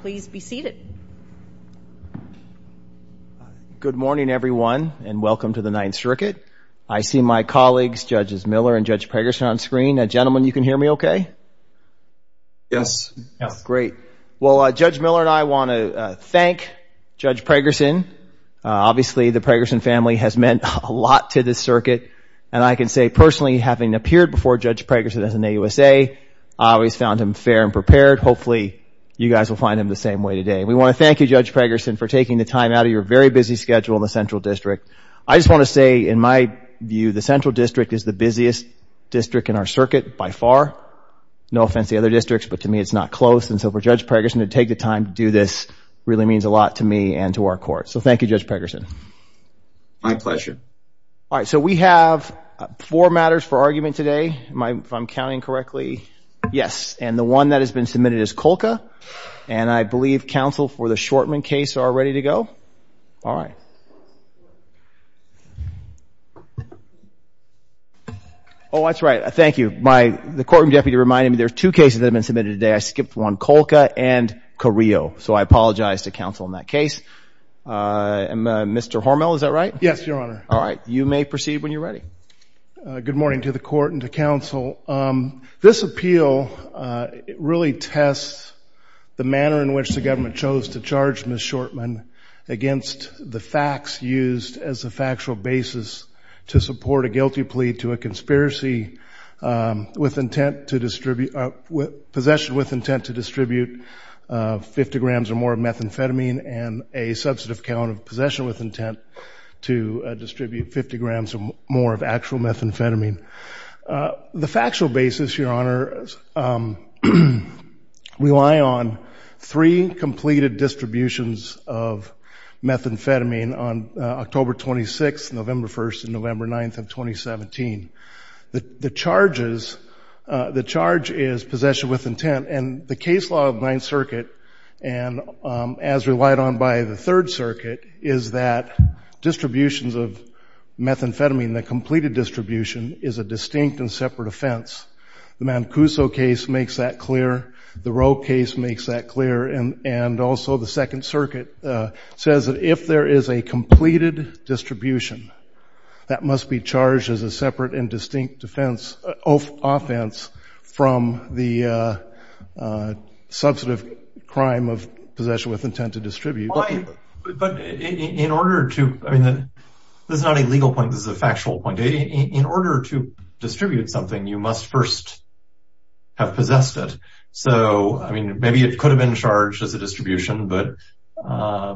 please be seated. Good morning everyone and welcome to the Ninth Circuit. I see my colleagues Judges Miller and Judge Pragerson on screen. Gentlemen, you can hear me okay? Yes. Yes, great. Well, Judge Miller and I want to thank Judge Pragerson. Obviously, the Pragerson family has meant a lot to this circuit and I can say personally having appeared before Judge Pragerson as an AUSA. I always found him fair and prepared. Hopefully, you guys will find him the same way today. We want to thank you Judge Pragerson for taking the time out of your very busy schedule in the Central District. I just want to say in my view the Central District is the busiest district in our circuit by far. No offense to other districts, but to me it's not close and so for Judge Pragerson to take the time to do this really means a lot to me and to our court. So, thank you Judge Pragerson. My pleasure. All right. So, we have four matters for argument today. If I'm counting correctly, yes, and the one that has been submitted is Colca and I believe counsel for the Shortman case are ready to go. All right. Oh, that's right. Thank you. The courtroom deputy reminded me there's two cases that have been submitted today. I skipped one, Colca and Carrillo. So, I apologize to counsel in that case. Mr. Hormel, is that right? Yes, your honor. All right. You may proceed when you're ready. Good morning to the court and to counsel. This appeal really tests the manner in which the government chose to charge Ms. Shortman against the facts used as a factual basis to support a guilty plea to a conspiracy with intent to distribute, possession with intent to distribute 50 grams or more of methamphetamine and a substantive count of possession with intent to distribute 50 grams or more of actual methamphetamine. The factual basis, your honor, rely on three completed distributions of methamphetamine on October 26th, November 1st, and November 9th of 2017. The charges, the charge is possession with intent. And the case law of Ninth Circuit, and as relied on by the Third Circuit, is that distributions of methamphetamine, the completed distribution, is a distinct and separate offense. The Mancuso case makes that clear. The Roe case makes that clear. And also the Second Circuit says that if there is a completed distribution, that must be offense from the substantive crime of possession with intent to distribute. But in order to, I mean, this is not a legal point. This is a factual point. In order to distribute something, you must first have possessed it. So, I mean, maybe it could have been charged as a distribution, but why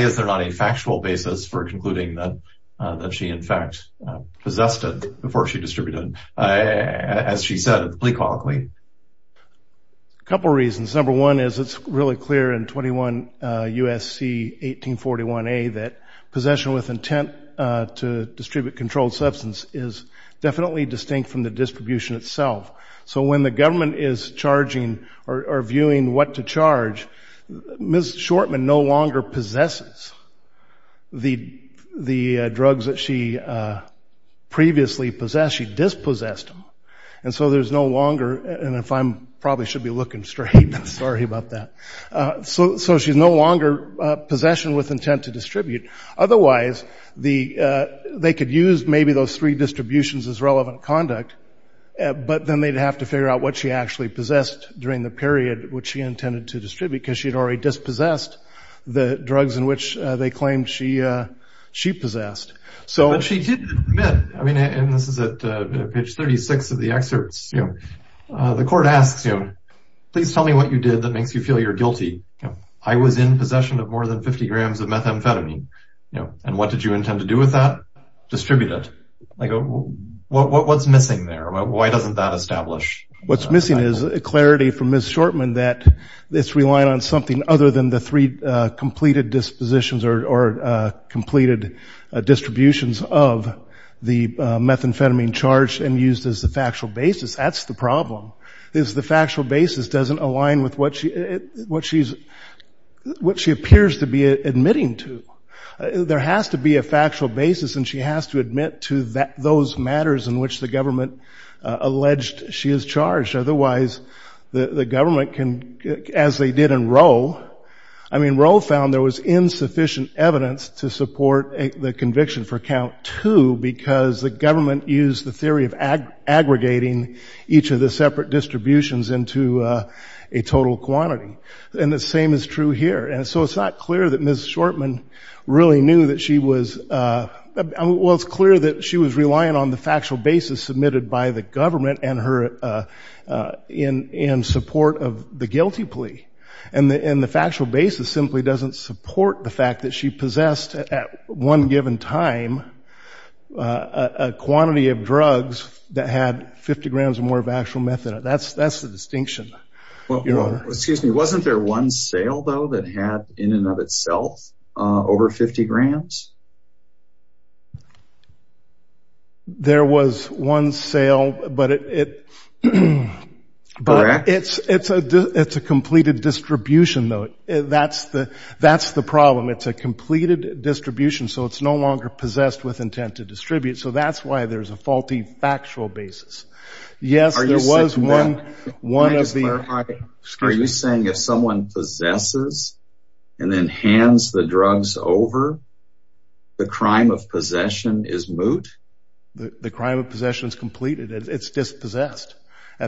is there not a factual basis for concluding that she, in fact, possessed it before she distributed it, as she said, plea colloquially? A couple of reasons. Number one is it's really clear in 21 U.S.C. 1841a that possession with intent to distribute controlled substance is definitely distinct from the distribution itself. So when the government is charging or viewing what to charge, Ms. Shortman no longer possesses the drugs that she previously possessed. She dispossessed them. And so there's no longer, and if I'm, probably should be looking straight. Sorry about that. So she's no longer possession with intent to distribute. Otherwise, they could use maybe those three distributions as relevant conduct, but then they'd have to figure out what she actually possessed during the period which she intended to distribute, because she'd already dispossessed the drugs in which they claimed she possessed. But she did admit, and this is at page 36 of the excerpts, the court asks, please tell me what you did that makes you feel you're guilty. I was in possession of more than 50 grams of methamphetamine. And what did you intend to do with that? Distribute it. Like, what's missing there? Why doesn't that establish? What's missing is a clarity from Ms. Shortman that it's relying on something other than the completed dispositions or completed distributions of the methamphetamine charged and used as the factual basis. That's the problem, is the factual basis doesn't align with what she appears to be admitting to. There has to be a factual basis and she has to admit to those matters in which the government alleged she is charged. Otherwise, the government can, as they did in Roe, I mean, Roe found there was insufficient evidence to support the conviction for count two, because the government used the theory of aggregating each of the separate distributions into a total quantity. And the same is true here. And so it's not clear that Ms. Shortman really knew that she was, well, it's clear that she was relying on the factual basis submitted by the government and her in support of the guilty plea. And the factual basis simply doesn't support the fact that she possessed at one given time a quantity of drugs that had 50 grams or more of actual methamphetamine. That's the distinction. Well, excuse me, wasn't there one sale, though, that had in and of itself over 50 grams? There was one sale, but it's a completed distribution, though. That's the problem. It's a completed distribution, so it's no longer possessed with intent to distribute. So that's why there's a faulty factual basis. Yes, there was one. Are you saying if someone possesses and then hands the drugs over, the crime of possession is moot? The crime of possession is completed. It's dispossessed.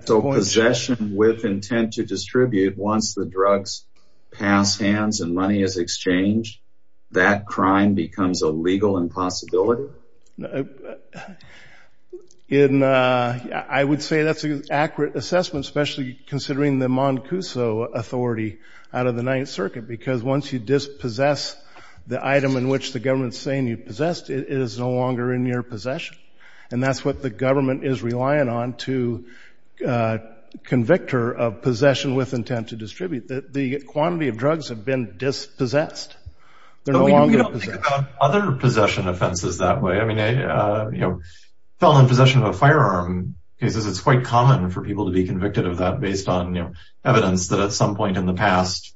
So possession with intent to distribute, once the drugs pass hands and money is exchanged, that crime becomes a legal impossibility? I would say that's an accurate assessment, especially considering the Moncuso authority out of the Ninth Circuit, because once you dispossess the item in which the government's saying you possessed, it is no longer in your possession. And that's what the government is relying on to convict her of possession with intent to distribute. The quantity of drugs have been dispossessed. They're no longer possessed. But we don't think about other felon possession of a firearm because it's quite common for people to be convicted of that based on evidence that at some point in the past,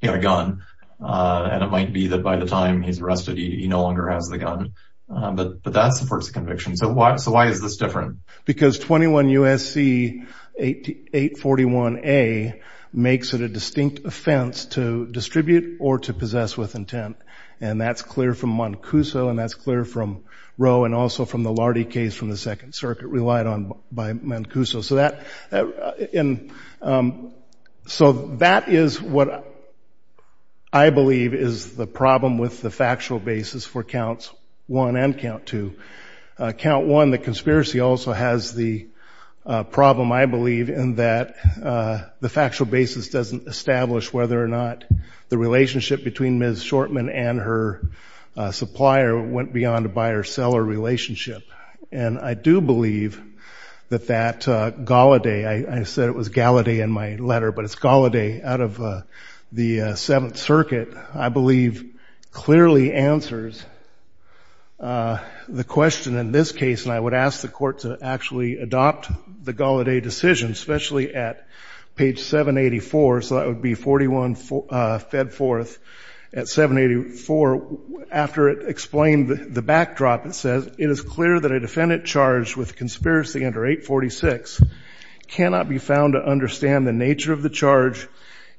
he had a gun. And it might be that by the time he's arrested, he no longer has the gun. But that supports conviction. So why is this different? Because 21 U.S.C. 841A makes it a distinct offense to distribute or to possess with intent. And that's clear from Moncuso. And that's clear from Roe and also from the Lardy case from the Second Circuit relied on by Moncuso. So that is what I believe is the problem with the factual basis for Counts 1 and Count 2. Count 1, the conspiracy, also has the problem, I believe, in that the factual basis doesn't establish whether or not the relationship between Ms. Shortman and her supplier went beyond a buyer-seller relationship. And I do believe that that Galladay, I said it was Galladay in my letter, but it's Galladay out of the Seventh Circuit, I believe, clearly answers the question in this case. And I would ask the court to actually adopt the Galladay decision, especially at page 784. So that would be 41 Fedforth at 784. After it explained the backdrop, it says, it is clear that a defendant charged with conspiracy under 846 cannot be found to understand the nature of the charge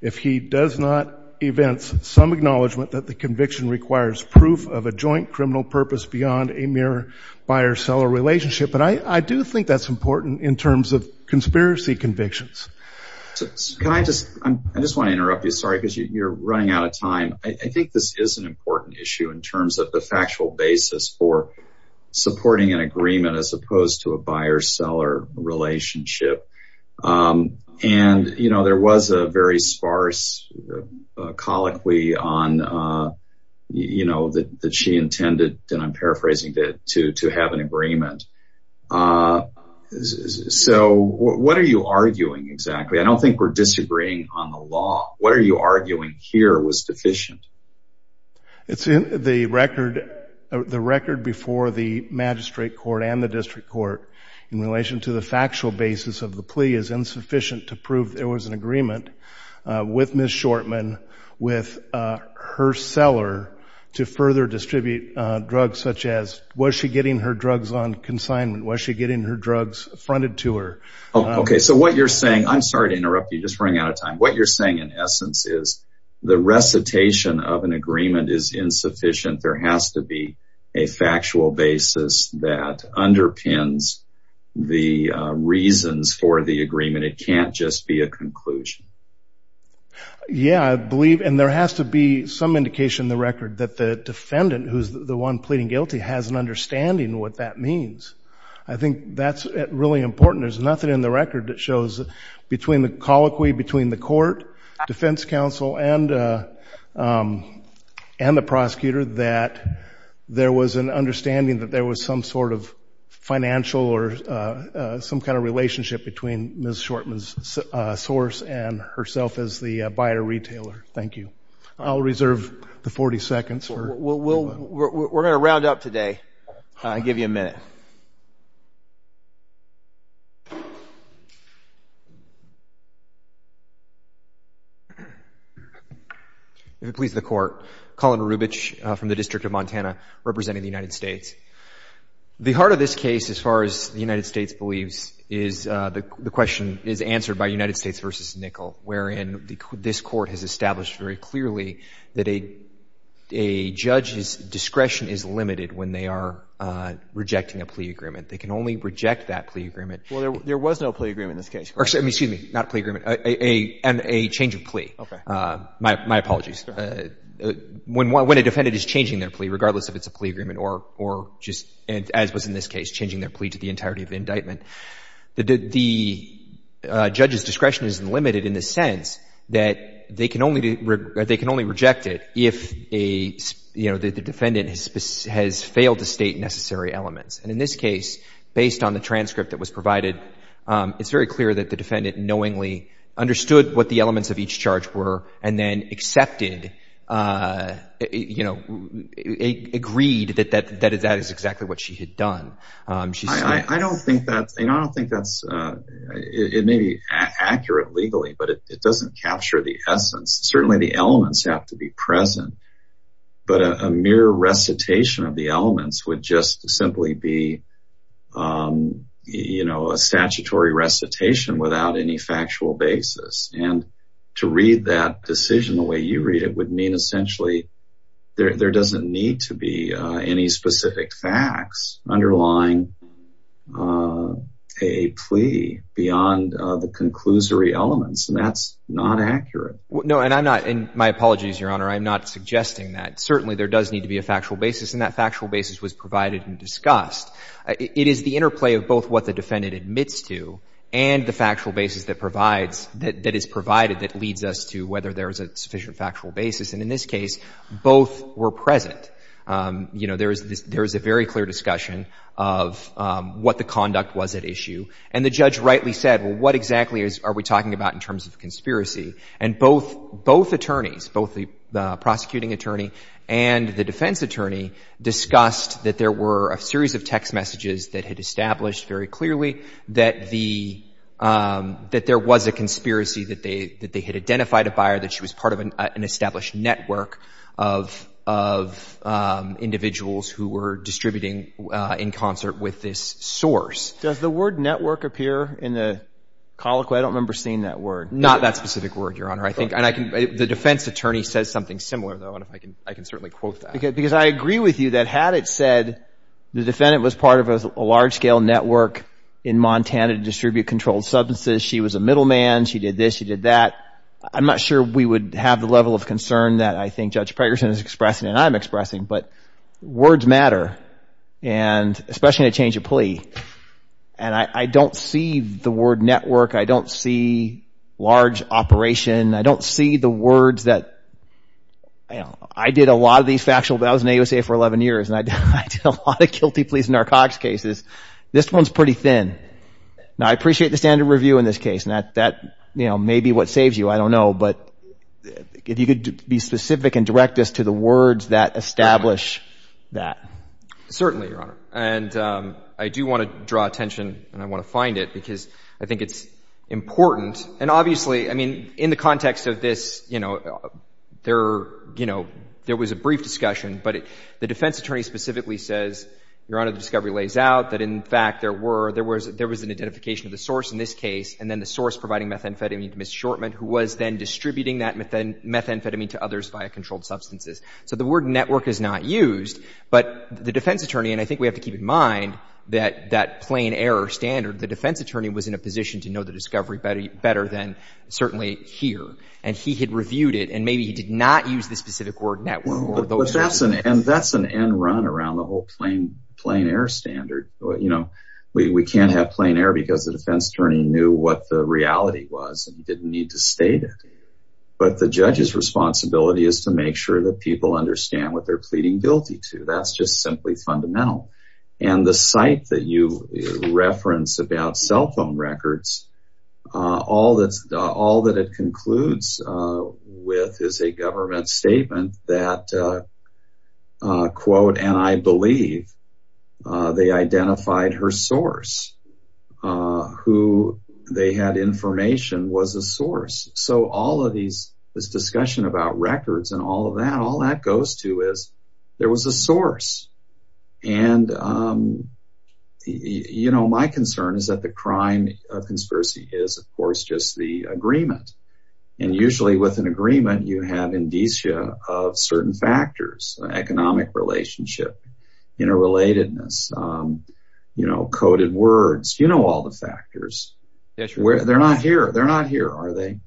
if he does not evince some acknowledgement that the conviction requires proof of a joint criminal purpose beyond a mere buyer-seller relationship. But I do think that's important in terms of conspiracy convictions. Can I just, I just want to interrupt you, sorry, because you're running out of time. I think this is an important issue in terms of the factual basis for supporting an agreement as opposed to a buyer-seller relationship. And, you know, there was a very sparse colloquy on, you know, that she intended, and I'm paraphrasing that, to have an agreement. So what are you arguing exactly? I don't think we're disagreeing on the law. What are you arguing here was deficient? It's in the record, the record before the magistrate court and the district court in relation to the factual basis of the plea is insufficient to prove there was an agreement with Ms. Shortman, with her seller, to further distribute drugs such as was she getting her drugs on consignment? Was she getting her drugs fronted to her? Okay, so what you're saying, I'm sorry to interrupt you, just running out of time. What you're saying in essence is the recitation of an agreement is insufficient. There has to be a factual basis that underpins the reasons for the agreement. It can't just be a conclusion. Yeah, I believe, and there has to be some indication in the record that the defendant, who's the one pleading guilty, has an understanding what that means. I think that's really important. There's nothing in the record that shows between the colloquy, between the court, defense counsel, and the prosecutor that there was an understanding that there was some sort of financial or some kind of relationship between Ms. Shortman's source and herself as the buyer-retailer. Thank you. I'll reserve the 40 seconds. We're going to round up today and give you a minute. If it pleases the court, Colin Rubich from the District of Montana, representing the United States. The heart of this case, as far as the United States believes, is the question is answered by United States v. Nickel, wherein this court has established very clearly that a judge's discretion is limited when they are rejecting a plea agreement. They can only reject that plea agreement. Well, there was no plea agreement in this case. Excuse me, not a plea agreement, and a change of plea. My apologies. When a defendant is changing their plea, regardless if it's a plea agreement or just, as was in this case, changing their plea to the entirety of the indictment, the judge's discretion is limited in the sense that they can only reject it if the defendant has failed to state necessary elements. And in this case, based on the transcript that was provided, it's very clear that the defendant knowingly and then accepted, you know, agreed that that is exactly what she had done. I don't think that's, you know, I don't think that's, it may be accurate legally, but it doesn't capture the essence. Certainly the elements have to be present, but a mere recitation of the elements would just simply be, you know, a statutory recitation without any factual basis. And to read that decision the way you read it would mean essentially there doesn't need to be any specific facts underlying a plea beyond the conclusory elements, and that's not accurate. No, and I'm not, and my apologies, Your Honor, I'm not suggesting that. Certainly there does need to be a factual basis, and that factual basis was provided and discussed. It is the interplay of both what the defendant admits to and the factual basis that provides, that is provided that leads us to whether there is a sufficient factual basis. And in this case, both were present. You know, there is this, there is a very clear discussion of what the conduct was at issue. And the judge rightly said, well, what exactly is, are we talking about in terms of conspiracy? And both, both attorneys, both the prosecuting attorney and the defense attorney discussed that there were a series of text messages that had established very clearly that the, that there was a conspiracy, that they, that they had identified a buyer, that she was part of an established network of, of individuals who were distributing in concert with this source. Does the word network appear in the colloquy? I don't remember seeing that word. Not that specific word, Your Honor. I think, and I can, the defense attorney says something similar though, and I can, I can certainly quote that. Because I agree with you that had it said, the defendant was part of a large-scale network in Montana to distribute controlled substances. She was a middleman. She did this, she did that. I'm not sure we would have the level of concern that I think Judge Pegerson is expressing, and I'm expressing, but words matter. And especially in a change of plea. And I, I don't see the word network. I don't see large operation. I don't see the words that you know, I did a lot of these factual, I was in AUSA for 11 years, and I did, I did a lot of guilty pleas narcotics cases. This one's pretty thin. Now, I appreciate the standard review in this case, and that, that, you know, may be what saves you. I don't know. But if you could be specific and direct us to the words that establish that. Certainly, Your Honor. And I do want to draw attention, and I want to find it, because I think it's important. And obviously, I mean, in the context of this, you know, there, you know, there was a brief discussion, but the defense attorney specifically says, Your Honor, the discovery lays out that, in fact, there were, there was, there was an identification of the source in this case, and then the source providing methamphetamine to Ms. Shortman, who was then distributing that methamphetamine to others via controlled substances. So the word network is not used, but the defense attorney, and I think we have to keep in mind that, that plain error standard, the defense attorney was in a position to know the discovery better than certainly here. And he had reviewed it, and maybe he did not use the specific word network. But that's an, and that's an end run around the whole plain, plain error standard. You know, we can't have plain error because the defense attorney knew what the reality was and didn't need to state it. But the judge's responsibility is to make sure that people understand what they're pleading guilty to. That's just simply fundamental. And the site that you reference about cell phone records, all that's, all that it concludes with is a government statement that, quote, and I believe they identified her source, who they had information was a source. So all of these, this discussion about records and all of there was a source. And, you know, my concern is that the crime of conspiracy is, of course, just the agreement. And usually with an agreement, you have indicia of certain factors, economic relationship, interrelatedness, you know, coded words, you know, all the factors. They're not here. They're not here, are they?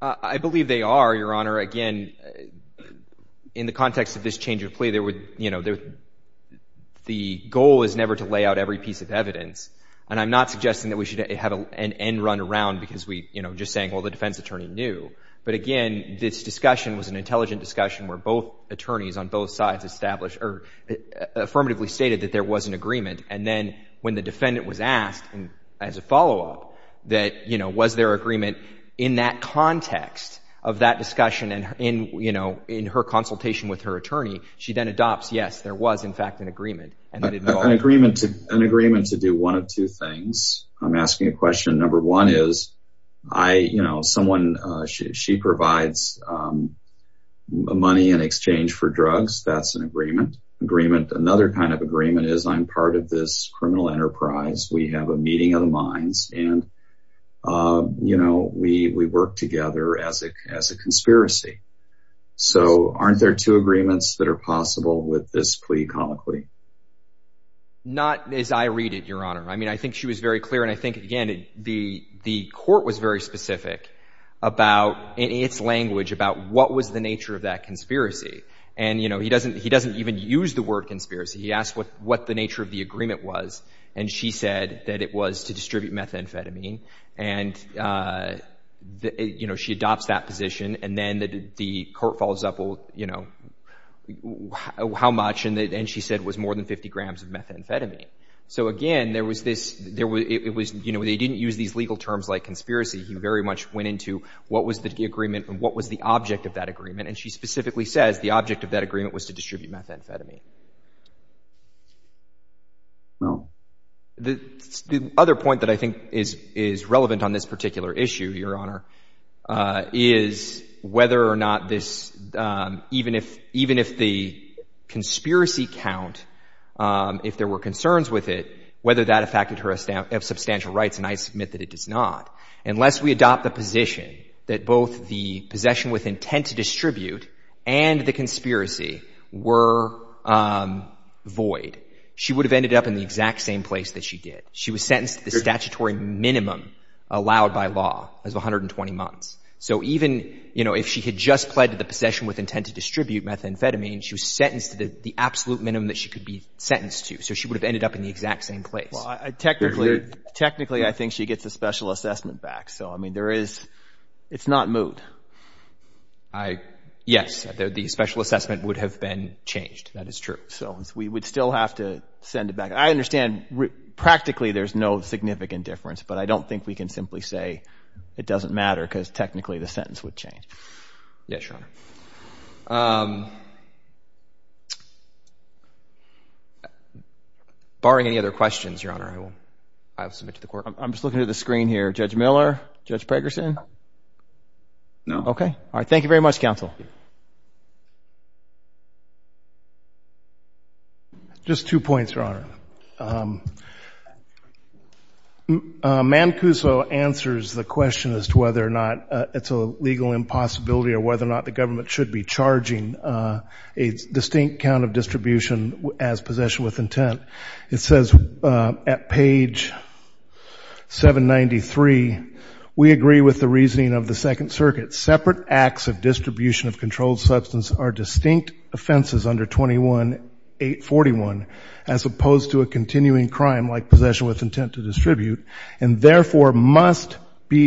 I believe they are, Your Honor. Again, in the context of this change of plea, there would, you know, the goal is never to lay out every piece of evidence. And I'm not suggesting that we should have an end run around because we, you know, just saying, well, the defense attorney knew. But again, this discussion was an intelligent discussion where both attorneys on both sides established or affirmatively stated that there was an agreement. And then when the defendant was asked, and as a follow-up, that, you know, was there agreement in that context of that discussion and in, you know, in her consultation with her attorney, she then adopts, yes, there was in fact an agreement. An agreement to do one of two things. I'm asking a question. Number one is I, you know, someone, she provides money in exchange for drugs. That's an agreement. Another kind of agreement is I'm part of this and, you know, we work together as a conspiracy. So aren't there two agreements that are possible with this plea, common plea? Not as I read it, Your Honor. I mean, I think she was very clear. And I think, again, the court was very specific about, in its language, about what was the nature of that conspiracy. And, you know, he doesn't even use the word conspiracy. He asked what the nature of the agreement was. And she said that it was to distribute methamphetamine. And, you know, she adopts that position. And then the court follows up, you know, how much? And she said it was more than 50 grams of methamphetamine. So, again, there was this, you know, they didn't use these legal terms like conspiracy. He very much went into what was the agreement and what was the object of that agreement. And she specifically says the object of that agreement was to distribute methamphetamine. The other point that I think is relevant on this particular issue, Your Honor, is whether or not this, even if the conspiracy count, if there were concerns with it, whether that affected her substantial rights, and I submit that it does not, unless we adopt the position that both the possession with intent to distribute and the possession with intent to distribute methamphetamine were void, she would have ended up in the exact same place that she did. She was sentenced to the statutory minimum allowed by law as 120 months. So, even, you know, if she had just pled to the possession with intent to distribute methamphetamine, she was sentenced to the absolute minimum that she could be sentenced to. So, she would have ended up in the exact same place. Technically, I think she gets a special assessment back. So, I mean, there is, it's not moot. Yes. The special assessment would have been changed. That is true. So, we would still have to send it back. I understand practically there's no significant difference, but I don't think we can simply say it doesn't matter because technically the sentence would change. Yes, Your Honor. Barring any other questions, Your Honor, I will, I'll submit to the court. I'm just looking at the screen here. Judge Miller, Judge Pegerson? No. Okay. All right. Thank you very much, counsel. Just two points, Your Honor. Mancuso answers the question as to whether or not it's a legal impossibility or whether or not the government should be charging a distinct count of distribution as possession with intent. It says at page 793, we agree with the reasoning of the Second Circuit. Separate acts of distribution of controlled substance are distinct offenses under 21-841 as opposed to a continuing crime like possession with intent to distribute and therefore must be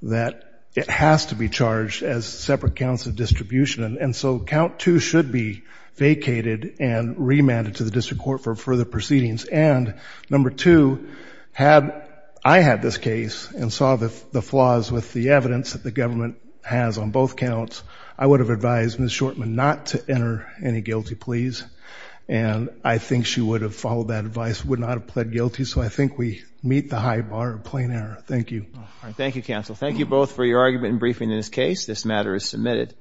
that it has to be charged as separate counts of distribution. And so, count 2 should be vacated and remanded to the district court for further proceedings. And number 2, had I had this case and saw the flaws with the evidence that the government has on both counts, I would have advised Ms. Shortman not to enter any guilty pleas. And I think she would have followed that advice, would not have pled guilty. So, I think we meet the high bar of plain error. Thank you. Thank you, counsel. Thank you both for your argument and briefing in this case. This matter is submitted.